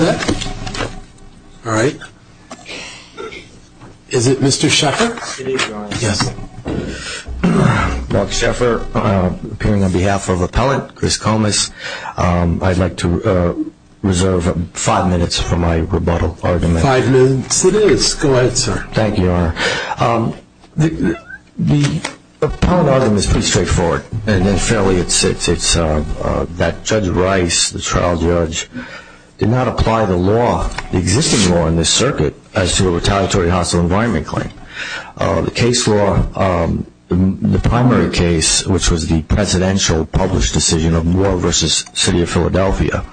All right. Is it Mr. Sheffer? It is, Your Honor. Yes. Mark Sheffer, appearing on behalf of Appellant Chris Comis. I'd like to reserve five minutes for my rebuttal argument. Five minutes it is. Go ahead, sir. Thank you, Your Honor. The Appellant argument is pretty straightforward. And fairly, it's that Judge Rice, the trial judge, did not apply the law, the existing law in this circuit, as to a retaliatory hostile environment claim. The case law, the primary case, which was the presidential published decision of Moore v. City of Philadelphia,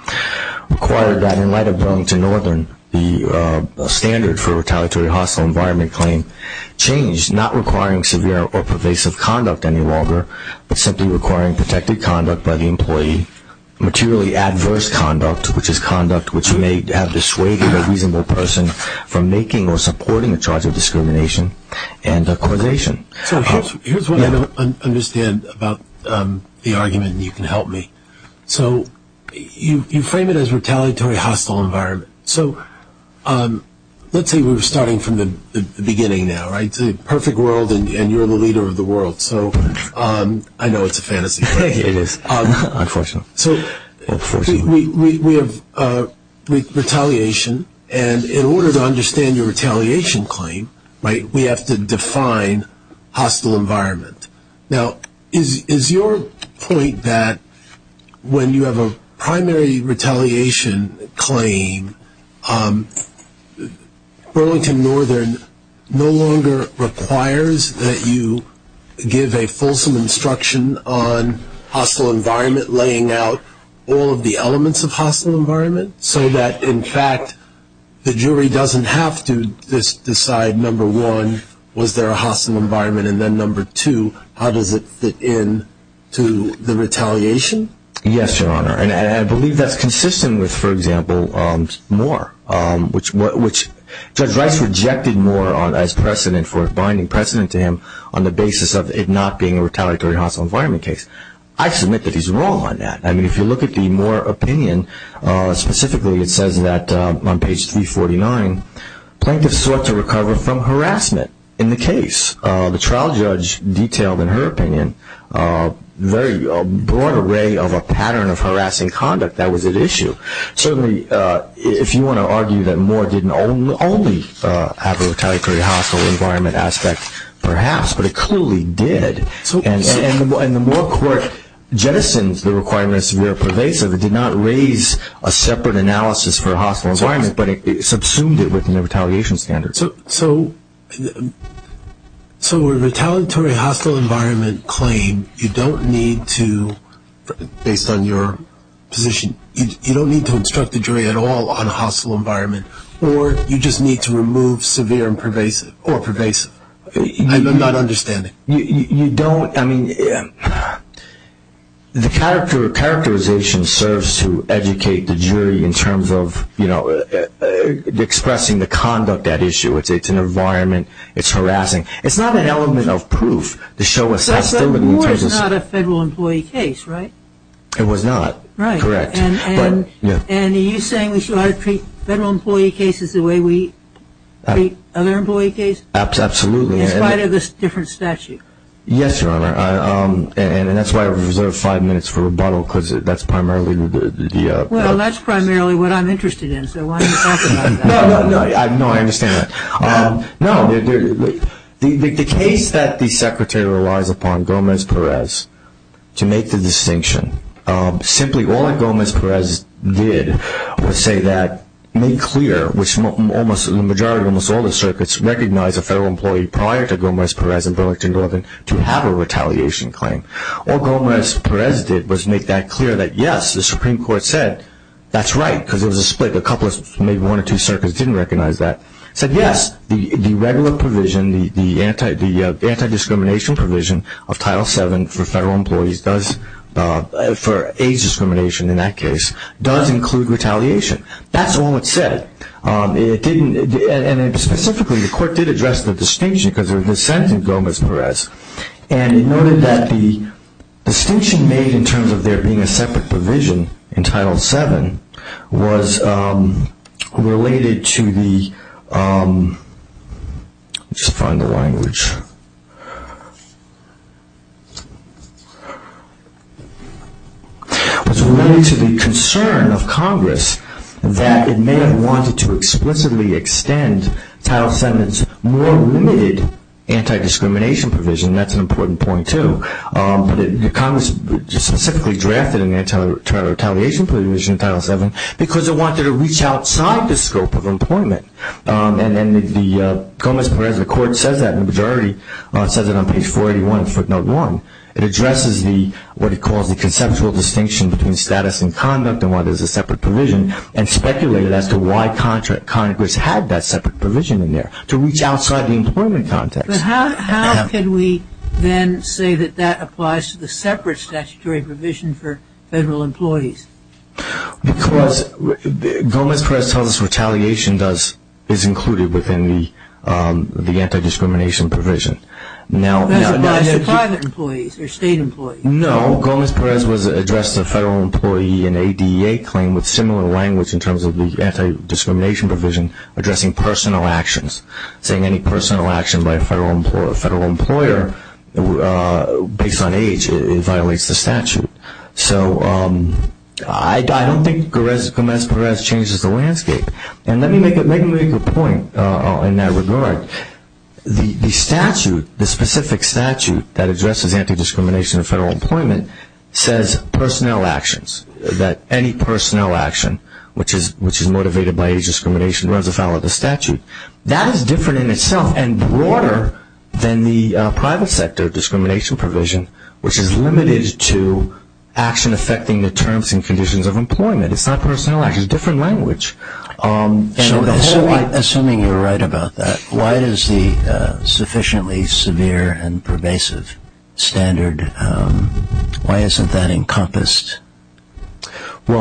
required that in light of going to Northern, the standard for a retaliatory hostile environment claim changed, not requiring severe or pervasive conduct any longer, but simply requiring protected conduct by the employee, materially adverse conduct, which is conduct which may have dissuaded a reasonable person from making or supporting a charge of discrimination and causation. So here's what I don't understand about the argument, and you can help me. So you frame it as retaliatory hostile environment. So let's say we're starting from the beginning now, right? It's a perfect world, and you're the leader of the world. So I know it's a fantasy. It is, unfortunately. So we have retaliation, and in order to understand your retaliation claim, right, we have to define hostile environment. Now, is your point that when you have a primary retaliation claim, Burlington Northern no longer requires that you give a fulsome instruction on hostile environment, laying out all of the elements of hostile environment, so that, in fact, the jury doesn't have to decide, number one, was there a hostile environment, and then, number two, how does it fit in to the retaliation? Yes, Your Honor, and I believe that's consistent with, for example, Moore, which Judge Rice rejected Moore as precedent for binding precedent to him on the basis of it not being a retaliatory hostile environment case. I submit that he's wrong on that. I mean, if you look at the Moore opinion, specifically it says that on page 349, plaintiffs sought to recover from harassment in the case. The trial judge detailed, in her opinion, a very broad array of a pattern of harassing conduct that was at issue. Certainly, if you want to argue that Moore didn't only have a retaliatory hostile environment aspect, perhaps, but it clearly did. And the Moore court jettisoned the requirement of severe pervasive. It did not raise a separate analysis for hostile environment, but it subsumed it within the retaliation standards. So a retaliatory hostile environment claim, you don't need to, based on your position, you don't need to instruct the jury at all on hostile environment, or you just need to remove severe or pervasive. I'm not understanding. You don't, I mean, the characterization serves to educate the jury in terms of expressing the conduct at issue. It's an environment, it's harassing. It's not an element of proof to show a hostility. But Moore is not a federal employee case, right? It was not, correct. And are you saying we should treat federal employee cases the way we treat other employee cases? Absolutely. In spite of this different statute? Yes, Your Honor, and that's why I reserved five minutes for rebuttal, because that's primarily the- Well, that's primarily what I'm interested in, so why don't you talk about that? No, no, no, I understand that. No, the case that the Secretary relies upon Gomez-Perez to make the distinction, simply all that Gomez-Perez did was say that, made clear, which the majority of almost all the circuits recognize a federal employee prior to Gomez-Perez and Burlington Northern to have a retaliation claim. All Gomez-Perez did was make that clear that, yes, the Supreme Court said that's right, because there was a split, a couple, maybe one or two circuits didn't recognize that, said, yes, the regular provision, the anti-discrimination provision of Title VII for federal employees does, for age discrimination in that case, does include retaliation. That's all it said. It didn't, and specifically, the court did address the distinction, because there was dissent in Gomez-Perez, and it noted that the distinction made in terms of there being a separate provision in Title VII was related to the, let me just find the language, was related to the concern of Congress that it may have wanted to explicitly extend Title VII's more limited anti-discrimination provision, and that's an important point, too. But Congress specifically drafted an anti-retaliation provision in Title VII because it wanted to reach outside the scope of employment, and the Gomez-Perez court says that in the majority, says it on page 481, footnote 1. It addresses the, what it calls the conceptual distinction between status and conduct and why there's a separate provision and speculated as to why Congress had that separate provision in there, to reach outside the employment context. But how can we then say that that applies to the separate statutory provision for federal employees? Because Gomez-Perez tells us retaliation is included within the anti-discrimination provision. That applies to private employees or state employees. No. Gomez-Perez addressed the federal employee in ADEA claim with similar language in terms of the anti-discrimination provision addressing personal actions, saying any personal action by a federal employer based on age violates the statute. So I don't think Gomez-Perez changes the landscape. And let me make a point in that regard. The statute, the specific statute that addresses anti-discrimination in federal employment says personnel actions, that any personnel action which is motivated by age discrimination runs afoul of the statute. That is different in itself and broader than the private sector discrimination provision, which is limited to action affecting the terms and conditions of employment. It's not personnel action. It's a different language. So assuming you're right about that, why does the sufficiently severe and pervasive standard, why isn't that encompassed in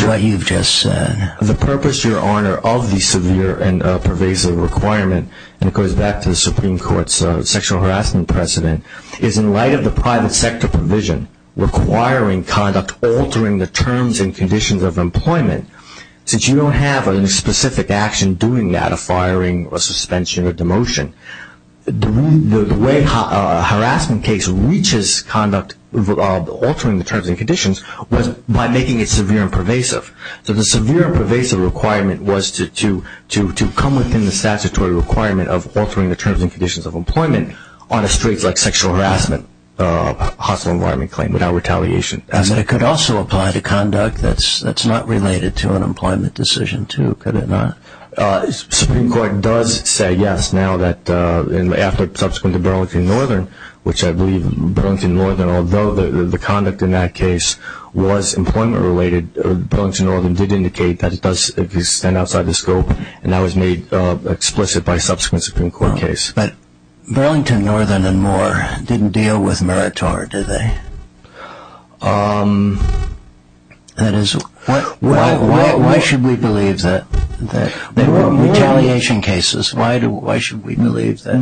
what you've just said? The purpose, Your Honor, of the severe and pervasive requirement, and it goes back to the Supreme Court's sexual harassment precedent, is in light of the private sector provision requiring conduct altering the terms and conditions of employment. Since you don't have a specific action doing that, a firing or suspension or demotion, the way a harassment case reaches conduct altering the terms and conditions was by making it severe and pervasive. So the severe and pervasive requirement was to come within the statutory requirement of altering the terms and conditions of employment on a straight, like sexual harassment, hostile environment claim without retaliation. It could also apply to conduct that's not related to an employment decision, too, could it not? The Supreme Court does say yes now that after subsequent to Burlington Northern, which I believe Burlington Northern, although the conduct in that case was employment-related, Burlington Northern did indicate that it does extend outside the scope, and that was made explicit by subsequent Supreme Court case. But Burlington Northern and Moore didn't deal with Meritor, did they? Why should we believe that? They were retaliation cases. Why should we believe that?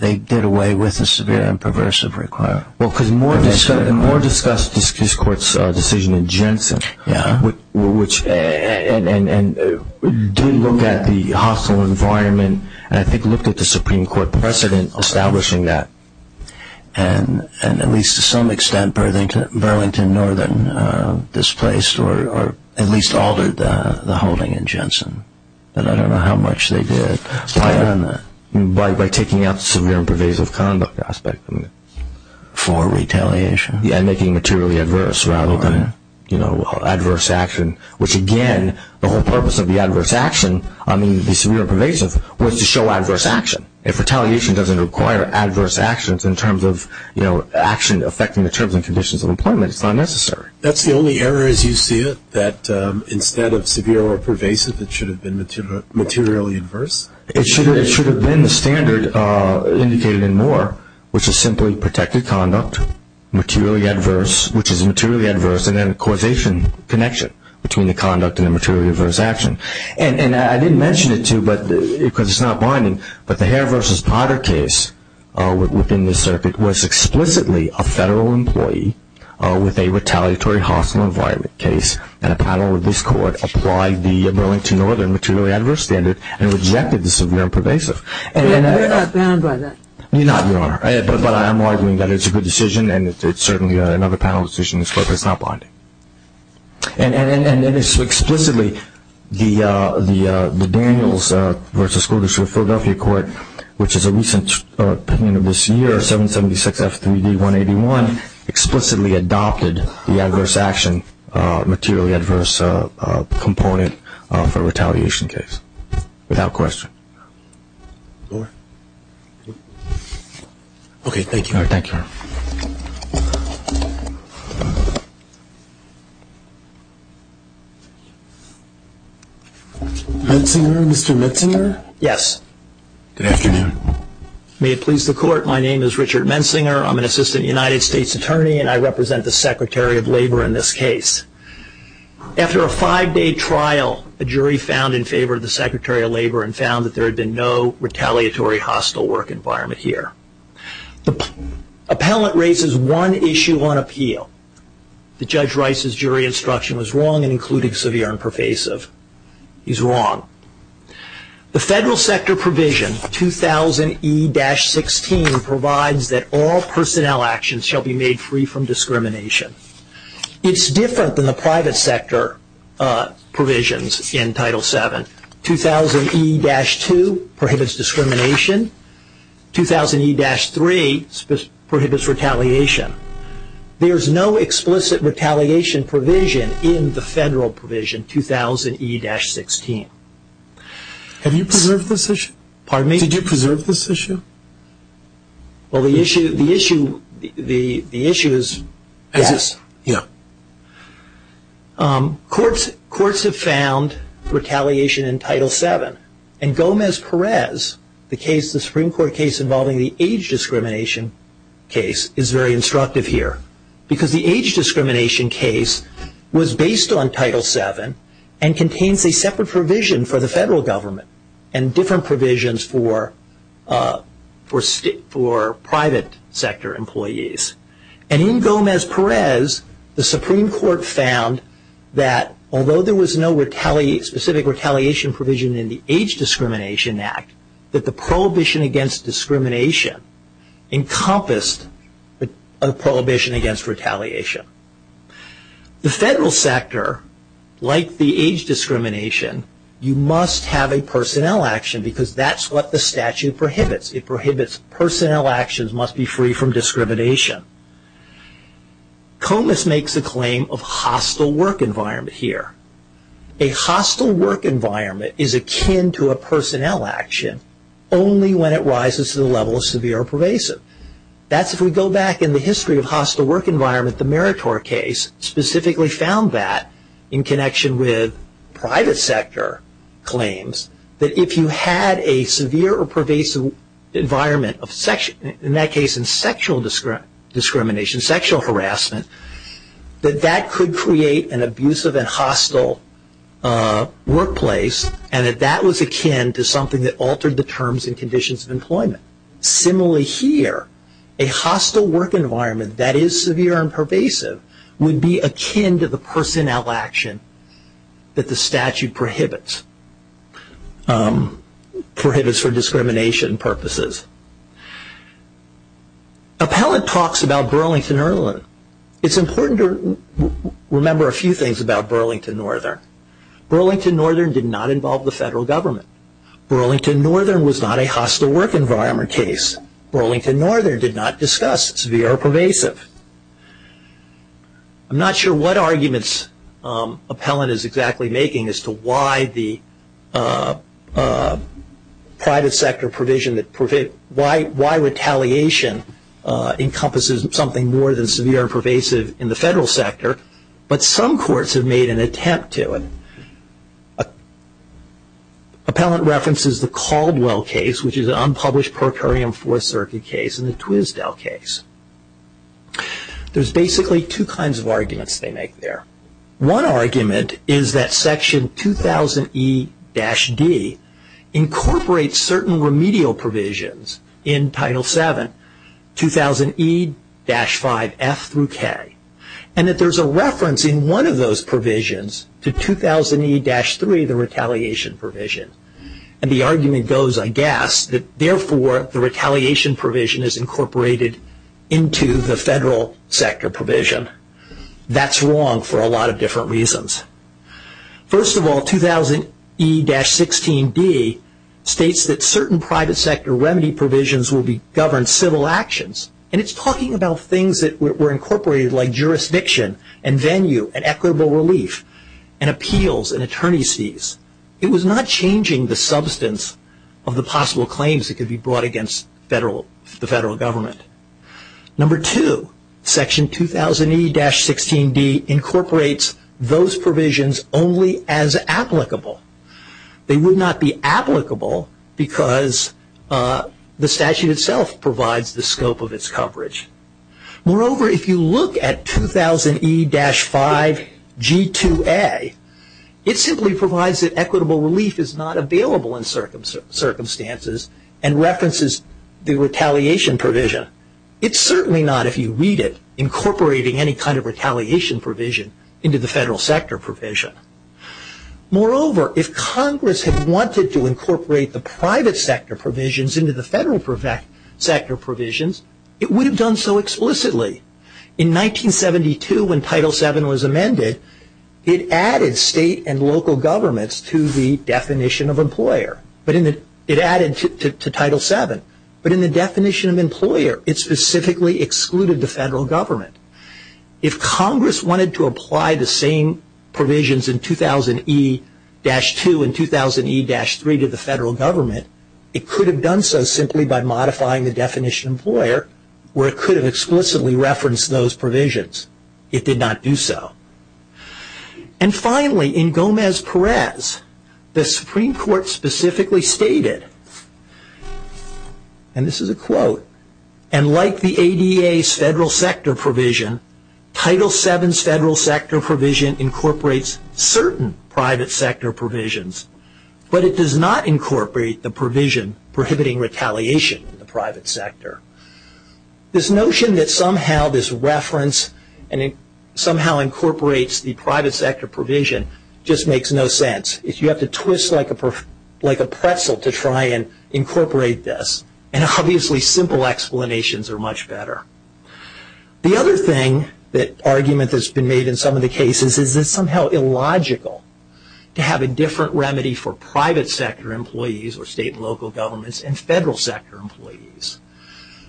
They did away with the severe and pervasive requirement. Well, because Moore discussed his court's decision in Jensen, and did look at the hostile environment, and I think looked at the Supreme Court precedent establishing that, and at least to some extent Burlington Northern displaced or at least altered the holding in Jensen. I don't know how much they did. By taking out the severe and pervasive conduct aspect for retaliation. Yeah, and making it materially adverse rather than adverse action, which again, the whole purpose of the adverse action, I mean the severe and pervasive, was to show adverse action. If retaliation doesn't require adverse actions in terms of action affecting the terms and conditions of employment, it's not necessary. That's the only error as you see it? That instead of severe or pervasive, it should have been materially adverse? It should have been the standard indicated in Moore, which is simply protected conduct, materially adverse, which is materially adverse, and then a causation connection between the conduct and the materially adverse action. And I didn't mention it to you because it's not binding, but the Hare v. Potter case within the circuit was explicitly a federal employee with a retaliatory hostile environment case, and a panel of this court applied the Burlington Northern materially adverse standard and rejected the severe and pervasive. They're not bound by that? They're not, Your Honor. But I'm arguing that it's a good decision, and it's certainly another panel decision, but it's not binding. And it is explicitly the Daniels v. School District of Philadelphia Court, which is a recent opinion of this year, 776F3D181, explicitly adopted the adverse action materially adverse component for a retaliation case, without question. Okay, thank you, Your Honor. Thank you, Your Honor. Mr. Metzinger? Yes. Good afternoon. May it please the court, my name is Richard Metzinger. I'm an assistant United States attorney, and I represent the Secretary of Labor in this case. After a five-day trial, a jury found in favor of the Secretary of Labor and found that there had been no retaliatory hostile work environment here. The appellant raises one issue on appeal. The Judge Rice's jury instruction was wrong in including severe and pervasive. He's wrong. The federal sector provision, 2000E-16, provides that all personnel actions shall be made free from discrimination. It's different than the private sector provisions in Title VII. 2000E-2 prohibits discrimination. 2000E-3 prohibits retaliation. There's no explicit retaliation provision in the federal provision, 2000E-16. Have you preserved this issue? Pardon me? Did you preserve this issue? Well, the issue is yes. Yeah. Courts have found retaliation in Title VII, and Gomez-Perez, the Supreme Court case involving the age discrimination case, is very instructive here because the age discrimination case was based on Title VII and contains a separate provision for the federal government and different provisions for private sector employees. In Gomez-Perez, the Supreme Court found that although there was no specific retaliation provision in the Age Discrimination Act, that the prohibition against discrimination encompassed a prohibition against retaliation. The federal sector, like the age discrimination, you must have a personnel action because that's what the statute prohibits. It prohibits personnel actions must be free from discrimination. Gomez makes a claim of hostile work environment here. A hostile work environment is akin to a personnel action only when it rises to the level of severe or pervasive. That's if we go back in the history of hostile work environment. The Meritor case specifically found that in connection with private sector claims that if you had a severe or pervasive environment, in that case in sexual discrimination, sexual harassment, that that could create an abusive and hostile workplace and that that was akin to something that altered the terms and conditions of employment. Similarly here, a hostile work environment that is severe and pervasive would be akin to the personnel action that the statute prohibits. Prohibits for discrimination purposes. Appellant talks about Burlington-Irwin. It's important to remember a few things about Burlington-Northern. Burlington-Northern did not involve the federal government. Burlington-Northern was not a hostile work environment case. Burlington-Northern did not discuss severe or pervasive. I'm not sure what arguments Appellant is exactly making as to why the private sector provision, why retaliation encompasses something more than severe and pervasive in the federal sector, but some courts have made an attempt to. Appellant references the Caldwell case, which is an unpublished pro curiam Fourth Circuit case and the Twisdale case. There's basically two kinds of arguments they make there. One argument is that section 2000E-D incorporates certain remedial provisions in Title VII, 2000E-5F through K, and that there's a reference in one of those provisions to 2000E-3, the retaliation provision. And the argument goes, I guess, that therefore the retaliation provision is incorporated into the federal sector provision. That's wrong for a lot of different reasons. First of all, 2000E-16D states that certain private sector remedy provisions will govern civil actions, and it's talking about things that were incorporated like jurisdiction and venue and equitable relief and appeals and attorneys fees. It was not changing the substance of the possible claims that could be brought against the federal government. Number two, section 2000E-16D incorporates those provisions only as applicable. They would not be applicable because the statute itself provides the scope of its coverage. Moreover, if you look at 2000E-5G2A, it simply provides that equitable relief is not available in circumstances and references the retaliation provision. It's certainly not, if you read it, incorporating any kind of retaliation provision into the federal sector provision. Moreover, if Congress had wanted to incorporate the private sector provisions into the federal sector provisions, it would have done so explicitly. In 1972, when Title VII was amended, it added state and local governments to the definition of employer. It added to Title VII, but in the definition of employer, it specifically excluded the federal government. If Congress wanted to apply the same provisions in 2000E-2 and 2000E-3 to the federal government, it could have done so simply by modifying the definition employer where it could have explicitly referenced those provisions. It did not do so. Finally, in Gomez-Perez, the Supreme Court specifically stated, and this is a quote, and like the ADA's federal sector provision, Title VII's federal sector provision incorporates certain private sector provisions, but it does not incorporate the provision prohibiting retaliation in the private sector. This notion that somehow this reference and it somehow incorporates the private sector provision just makes no sense. You have to twist like a pretzel to try and incorporate this, and obviously simple explanations are much better. The other thing that argument has been made in some of the cases is it's somehow illogical to have a different remedy for private sector employees or state and local governments and federal sector employees.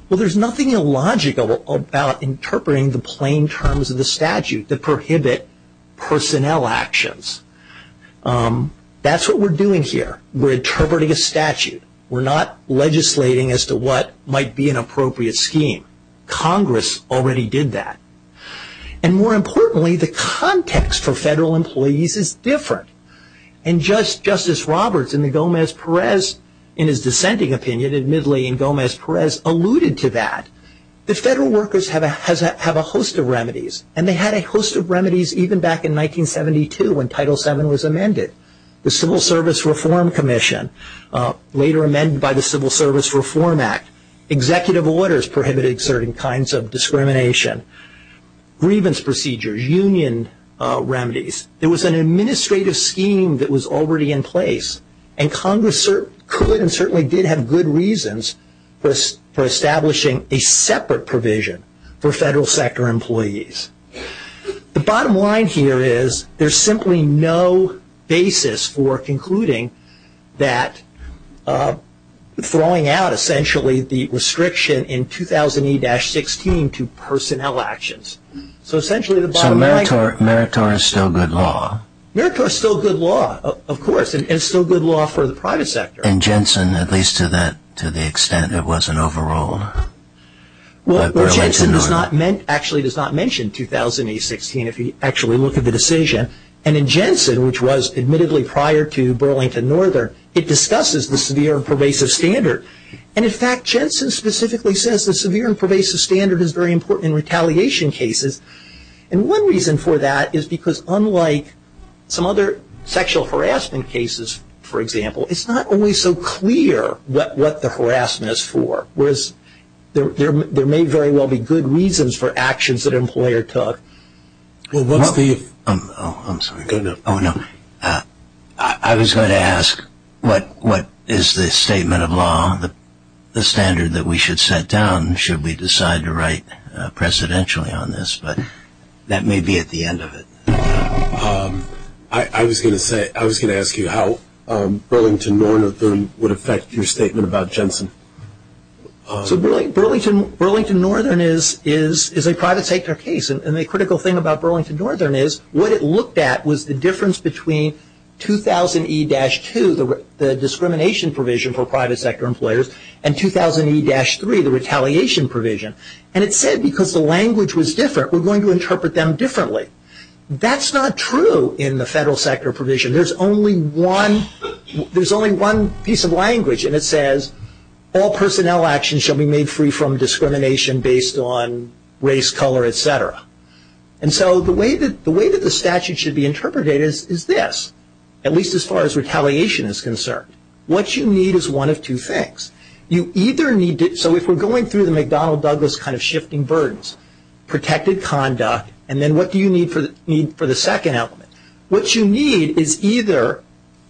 There's nothing illogical about interpreting the plain terms of the statute that prohibit personnel actions. That's what we're doing here. We're interpreting a statute. We're not legislating as to what might be an appropriate scheme. Congress already did that. More importantly, the context for federal employees is different. Justice Roberts in the Gomez-Perez, in his dissenting opinion, admittedly in Gomez-Perez alluded to that. The federal workers have a host of remedies, and they had a host of remedies even back in 1972 when Title VII was amended. The Civil Service Reform Commission, later amended by the Civil Service Reform Act, executive orders prohibiting certain kinds of discrimination, grievance procedures, union remedies. There was an administrative scheme that was already in place, and Congress could and certainly did have good reasons for establishing a separate provision for federal sector employees. The bottom line here is there's simply no basis for concluding that throwing out, essentially, the restriction in 2008-16 to personnel actions. So Meritor is still good law. Meritor is still good law, of course, and it's still good law for the private sector. And Jensen, at least to the extent it wasn't overruled by Burlington Northern. Well, Jensen actually does not mention 2008-16 if you actually look at the decision. And in Jensen, which was admittedly prior to Burlington Northern, it discusses the severe and pervasive standard. And, in fact, Jensen specifically says the severe and pervasive standard is very important in retaliation cases. And one reason for that is because unlike some other sexual harassment cases, for example, it's not always so clear what the harassment is for, whereas there may very well be good reasons for actions that an employer took. Well, what's the... Oh, I'm sorry. Oh, no. I was going to ask what is the statement of law, the standard that we should set down should we decide to write presidentially on this, but that may be at the end of it. I was going to ask you how Burlington Northern would affect your statement about Jensen. So Burlington Northern is a private sector case. And the critical thing about Burlington Northern is what it looked at was the difference between 2000E-2, the discrimination provision for private sector employers, and 2000E-3, the retaliation provision. And it said because the language was different, we're going to interpret them differently. That's not true in the federal sector provision. There's only one piece of language, and it says, all personnel actions shall be made free from discrimination based on race, color, et cetera. And so the way that the statute should be interpreted is this, at least as far as retaliation is concerned. What you need is one of two things. You either need to... So if we're going through the McDonnell Douglas kind of shifting burdens, protected conduct, and then what do you need for the second element? What you need is either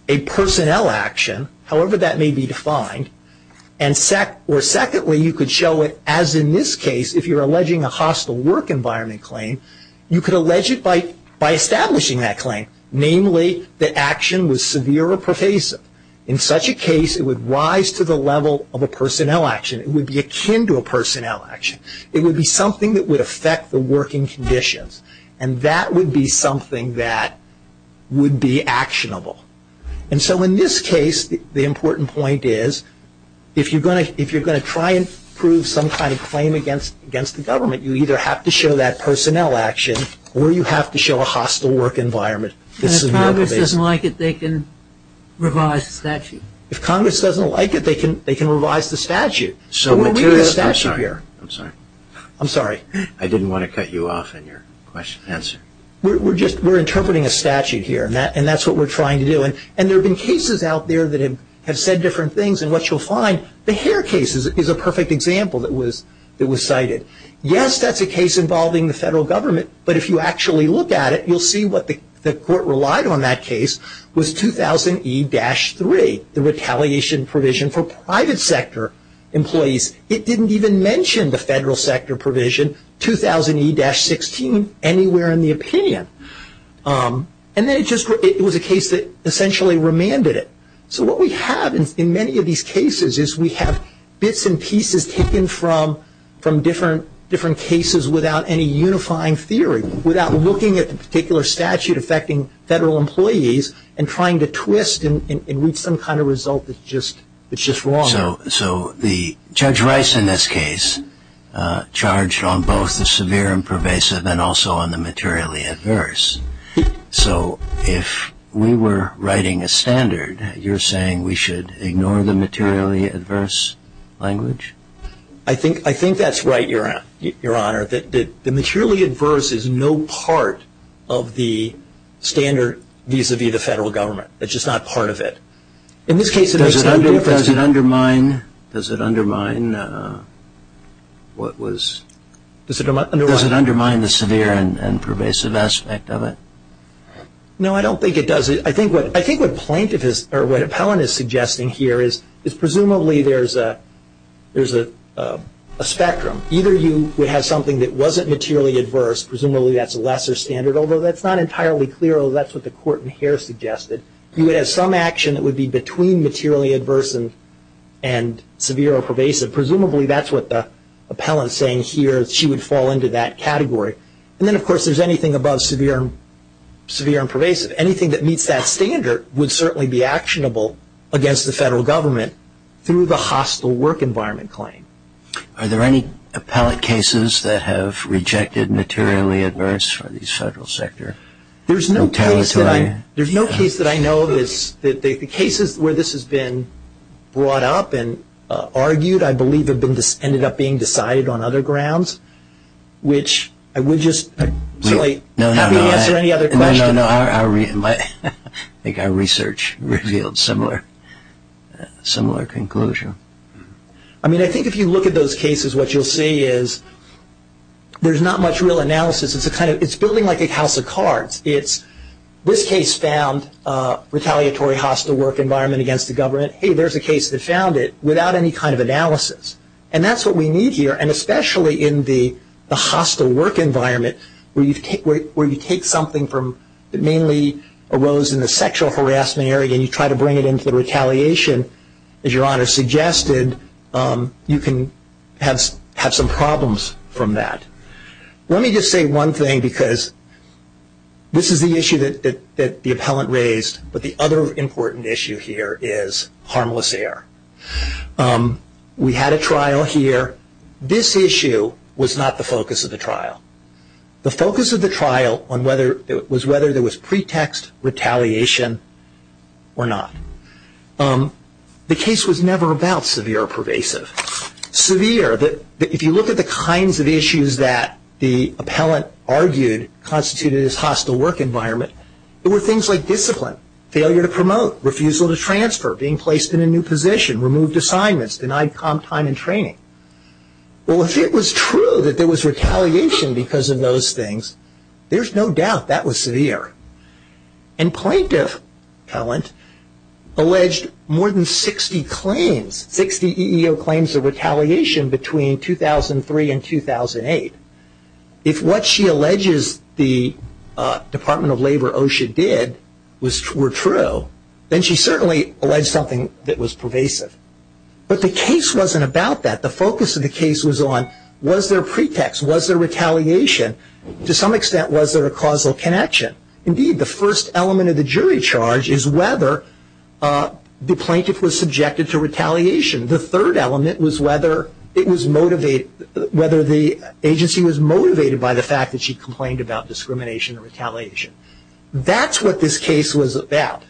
a personnel action, however that may be defined, or secondly, you could show it as in this case, if you're alleging a hostile work environment claim, you could allege it by establishing that claim, namely that action was severe or pervasive. In such a case, it would rise to the level of a personnel action. It would be akin to a personnel action. It would be something that would affect the working conditions. And that would be something that would be actionable. And so in this case, the important point is, if you're going to try and prove some kind of claim against the government, you either have to show that personnel action or you have to show a hostile work environment. If Congress doesn't like it, they can revise the statute. If Congress doesn't like it, they can revise the statute. I'm sorry. I'm sorry. I didn't want to cut you off in your answer. We're interpreting a statute here, and that's what we're trying to do. And there have been cases out there that have said different things, and what you'll find, the Hare case is a perfect example that was cited. Yes, that's a case involving the federal government, but if you actually look at it, you'll see what the court relied on in that case was 2000E-3, the retaliation provision for private sector employees. It didn't even mention the federal sector provision, 2000E-16, anywhere in the opinion. And then it was a case that essentially remanded it. So what we have in many of these cases is we have bits and pieces taken from different cases without any unifying theory, without looking at the particular statute affecting federal employees and trying to twist and reach some kind of result that's just wrong. So Judge Rice in this case charged on both the severe and pervasive and also on the materially adverse. So if we were writing a standard, you're saying we should ignore the materially adverse language? I think that's right, Your Honor. The materially adverse is no part of the standard vis-a-vis the federal government. It's just not part of it. In this case, it makes no difference. Does it undermine the severe and pervasive aspect of it? No, I don't think it does. I think what Appellant is suggesting here is presumably there's a spectrum. Either you would have something that wasn't materially adverse. Presumably that's a lesser standard, although that's not entirely clear. That's what the court in here suggested. You would have some action that would be between materially adverse and severe or pervasive. Presumably that's what the Appellant is saying here. She would fall into that category. And then, of course, there's anything above severe and pervasive. Anything that meets that standard would certainly be actionable against the federal government through the hostile work environment claim. Are there any Appellant cases that have rejected materially adverse for the federal sector? There's no case that I know of where this has been brought up and argued. I believe it ended up being decided on other grounds, which I would just happily answer any other questions. No, no, no. I think our research revealed a similar conclusion. I mean, I think if you look at those cases, what you'll see is there's not much real analysis. It's building like a house of cards. This case found retaliatory hostile work environment against the government. Hey, there's a case that found it without any kind of analysis. And that's what we need here, and especially in the hostile work environment where you take something that mainly arose in the sexual harassment area and you try to bring it into the retaliation, as your Honor suggested, you can have some problems from that. Let me just say one thing because this is the issue that the Appellant raised, but the other important issue here is harmless error. We had a trial here. The focus of the trial was whether there was pretext retaliation or not. The case was never about severe or pervasive. Severe, if you look at the kinds of issues that the Appellant argued constituted his hostile work environment, there were things like discipline, failure to promote, refusal to transfer, being placed in a new position, removed assignments, denied comp time and training. Well, if it was true that there was retaliation because of those things, there's no doubt that was severe. And Plaintiff Appellant alleged more than 60 claims, 60 EEO claims of retaliation between 2003 and 2008. If what she alleges the Department of Labor OSHA did were true, but the case wasn't about that. The focus of the case was on was there pretext, was there retaliation? To some extent, was there a causal connection? Indeed, the first element of the jury charge is whether the Plaintiff was subjected to retaliation. The third element was whether it was motivated, whether the agency was motivated by the fact that she complained about discrimination and retaliation. That's what this case was about.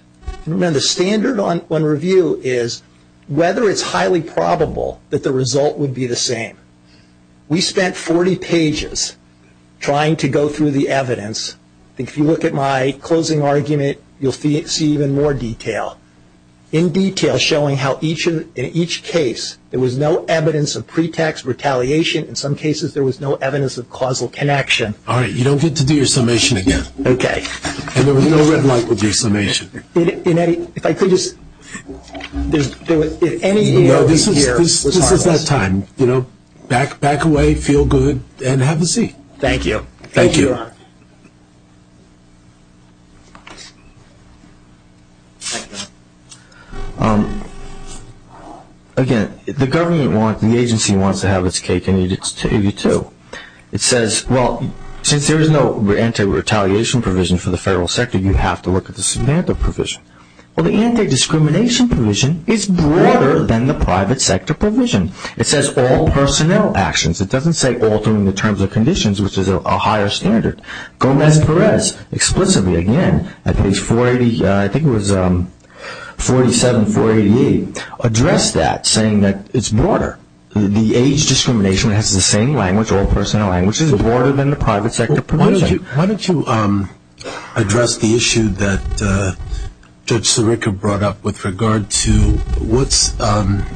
Remember, the standard on review is whether it's highly probable that the result would be the same. We spent 40 pages trying to go through the evidence. If you look at my closing argument, you'll see even more detail. In detail, showing how in each case there was no evidence of pretext retaliation. In some cases, there was no evidence of causal connection. All right, you don't get to do your summation again. Okay. And there was no red light with your summation. If I could just... No, this is that time. Back away, feel good, and have a seat. Thank you. Thank you. Again, the government wants, the agency wants to have its cake, and it's to you too. It says, well, since there is no anti-retaliation provision for the federal sector, you have to look at the substandard provision. Well, the anti-discrimination provision is broader than the private sector provision. It says all personnel actions. It doesn't say altering the terms and conditions, which is a higher standard. Gomez Perez explicitly, again, at page 480, I think it was 47, 488, addressed that, saying that it's broader. The age discrimination has the same language, all personnel language. It's broader than the private sector provision. Why don't you address the issue that Judge Sirica brought up with regard to what's the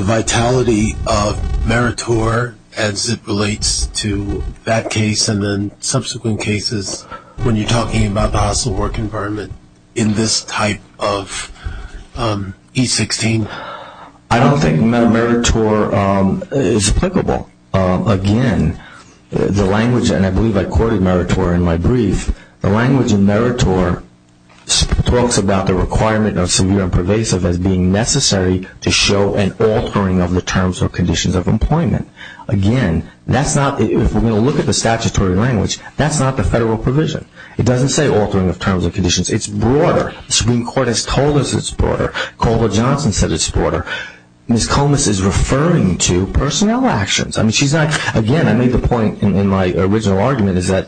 vitality of meritor, as it relates to that case and then subsequent cases, when you're talking about the hostile work environment in this type of E16? I don't think meritor is applicable. Again, the language, and I believe I quoted meritor in my brief, the language in meritor talks about the requirement of severe and pervasive as being necessary to show an altering of the terms or conditions of employment. Again, that's not, if we're going to look at the statutory language, that's not the federal provision. It doesn't say altering of terms and conditions. The Supreme Court has told us it's broader. Caldwell Johnson said it's broader. Ms. Comis is referring to personnel actions. I mean, she's not, again, I made the point in my original argument is that,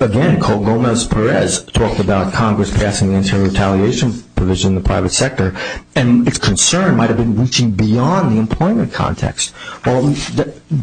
again, Colgomez-Perez talked about Congress passing the internal retaliation provision in the private sector, and its concern might have been reaching beyond the employment context. Well,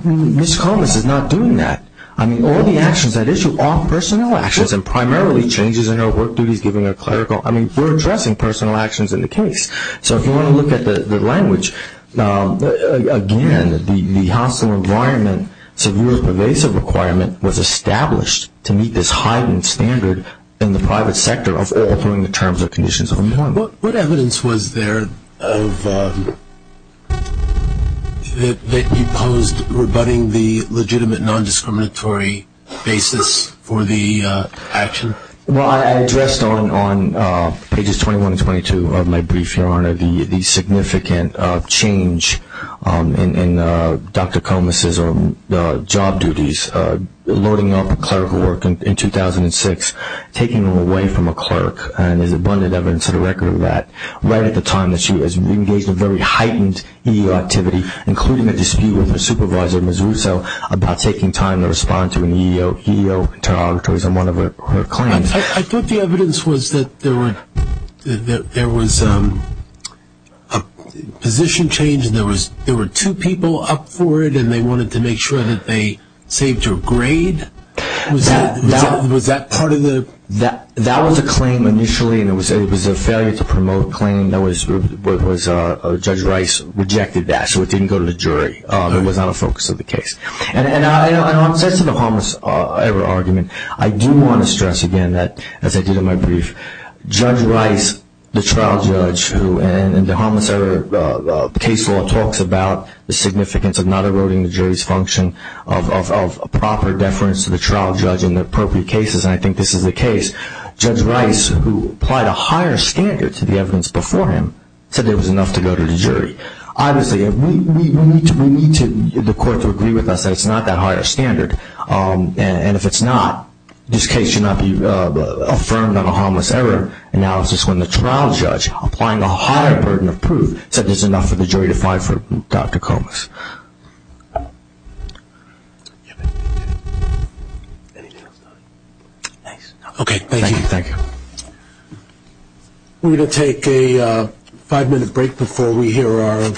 Ms. Comis is not doing that. I mean, all the actions at issue are personnel actions, and primarily changes in her work duties, giving her clerical, I mean, we're addressing personnel actions in the case. So if you want to look at the language, again, the hostile environment, severe and pervasive requirement was established to meet this heightened standard in the private sector of altering the terms and conditions of employment. What evidence was there that you posed rebutting the legitimate non-discriminatory basis for the action? Well, I addressed on pages 21 and 22 of my brief, Your Honor, the significant change in Dr. Comis' job duties, loading up clerical work in 2006, taking them away from a clerk, and there's abundant evidence to the record of that, right at the time that she has engaged in very heightened EEO activity, including a dispute with her supervisor, Ms. Russo, about taking time to respond to an EEO interrogatory on one of her claims. I thought the evidence was that there was a position change, and there were two people up for it, and they wanted to make sure that they saved her a grade. Was that part of the? That was a claim initially, and it was a failure to promote claim. Judge Rice rejected that, so it didn't go to the jury. It was not a focus of the case. And on the sense of the harmless error argument, I do want to stress again that, as I did in my brief, Judge Rice, the trial judge who, in the harmless error case law, talks about the significance of not eroding the jury's function of proper deference to the trial judge in the appropriate cases, and I think this is the case. Judge Rice, who applied a higher standard to the evidence before him, said there was enough to go to the jury. Obviously, we need the court to agree with us that it's not that higher standard, and if it's not, this case should not be affirmed on a harmless error analysis when the trial judge, applying a higher burden of proof, said there's enough for the jury to fight for Dr. Comus. Thanks. Okay, thank you. Thank you. We're going to take a five-minute break before we hear our...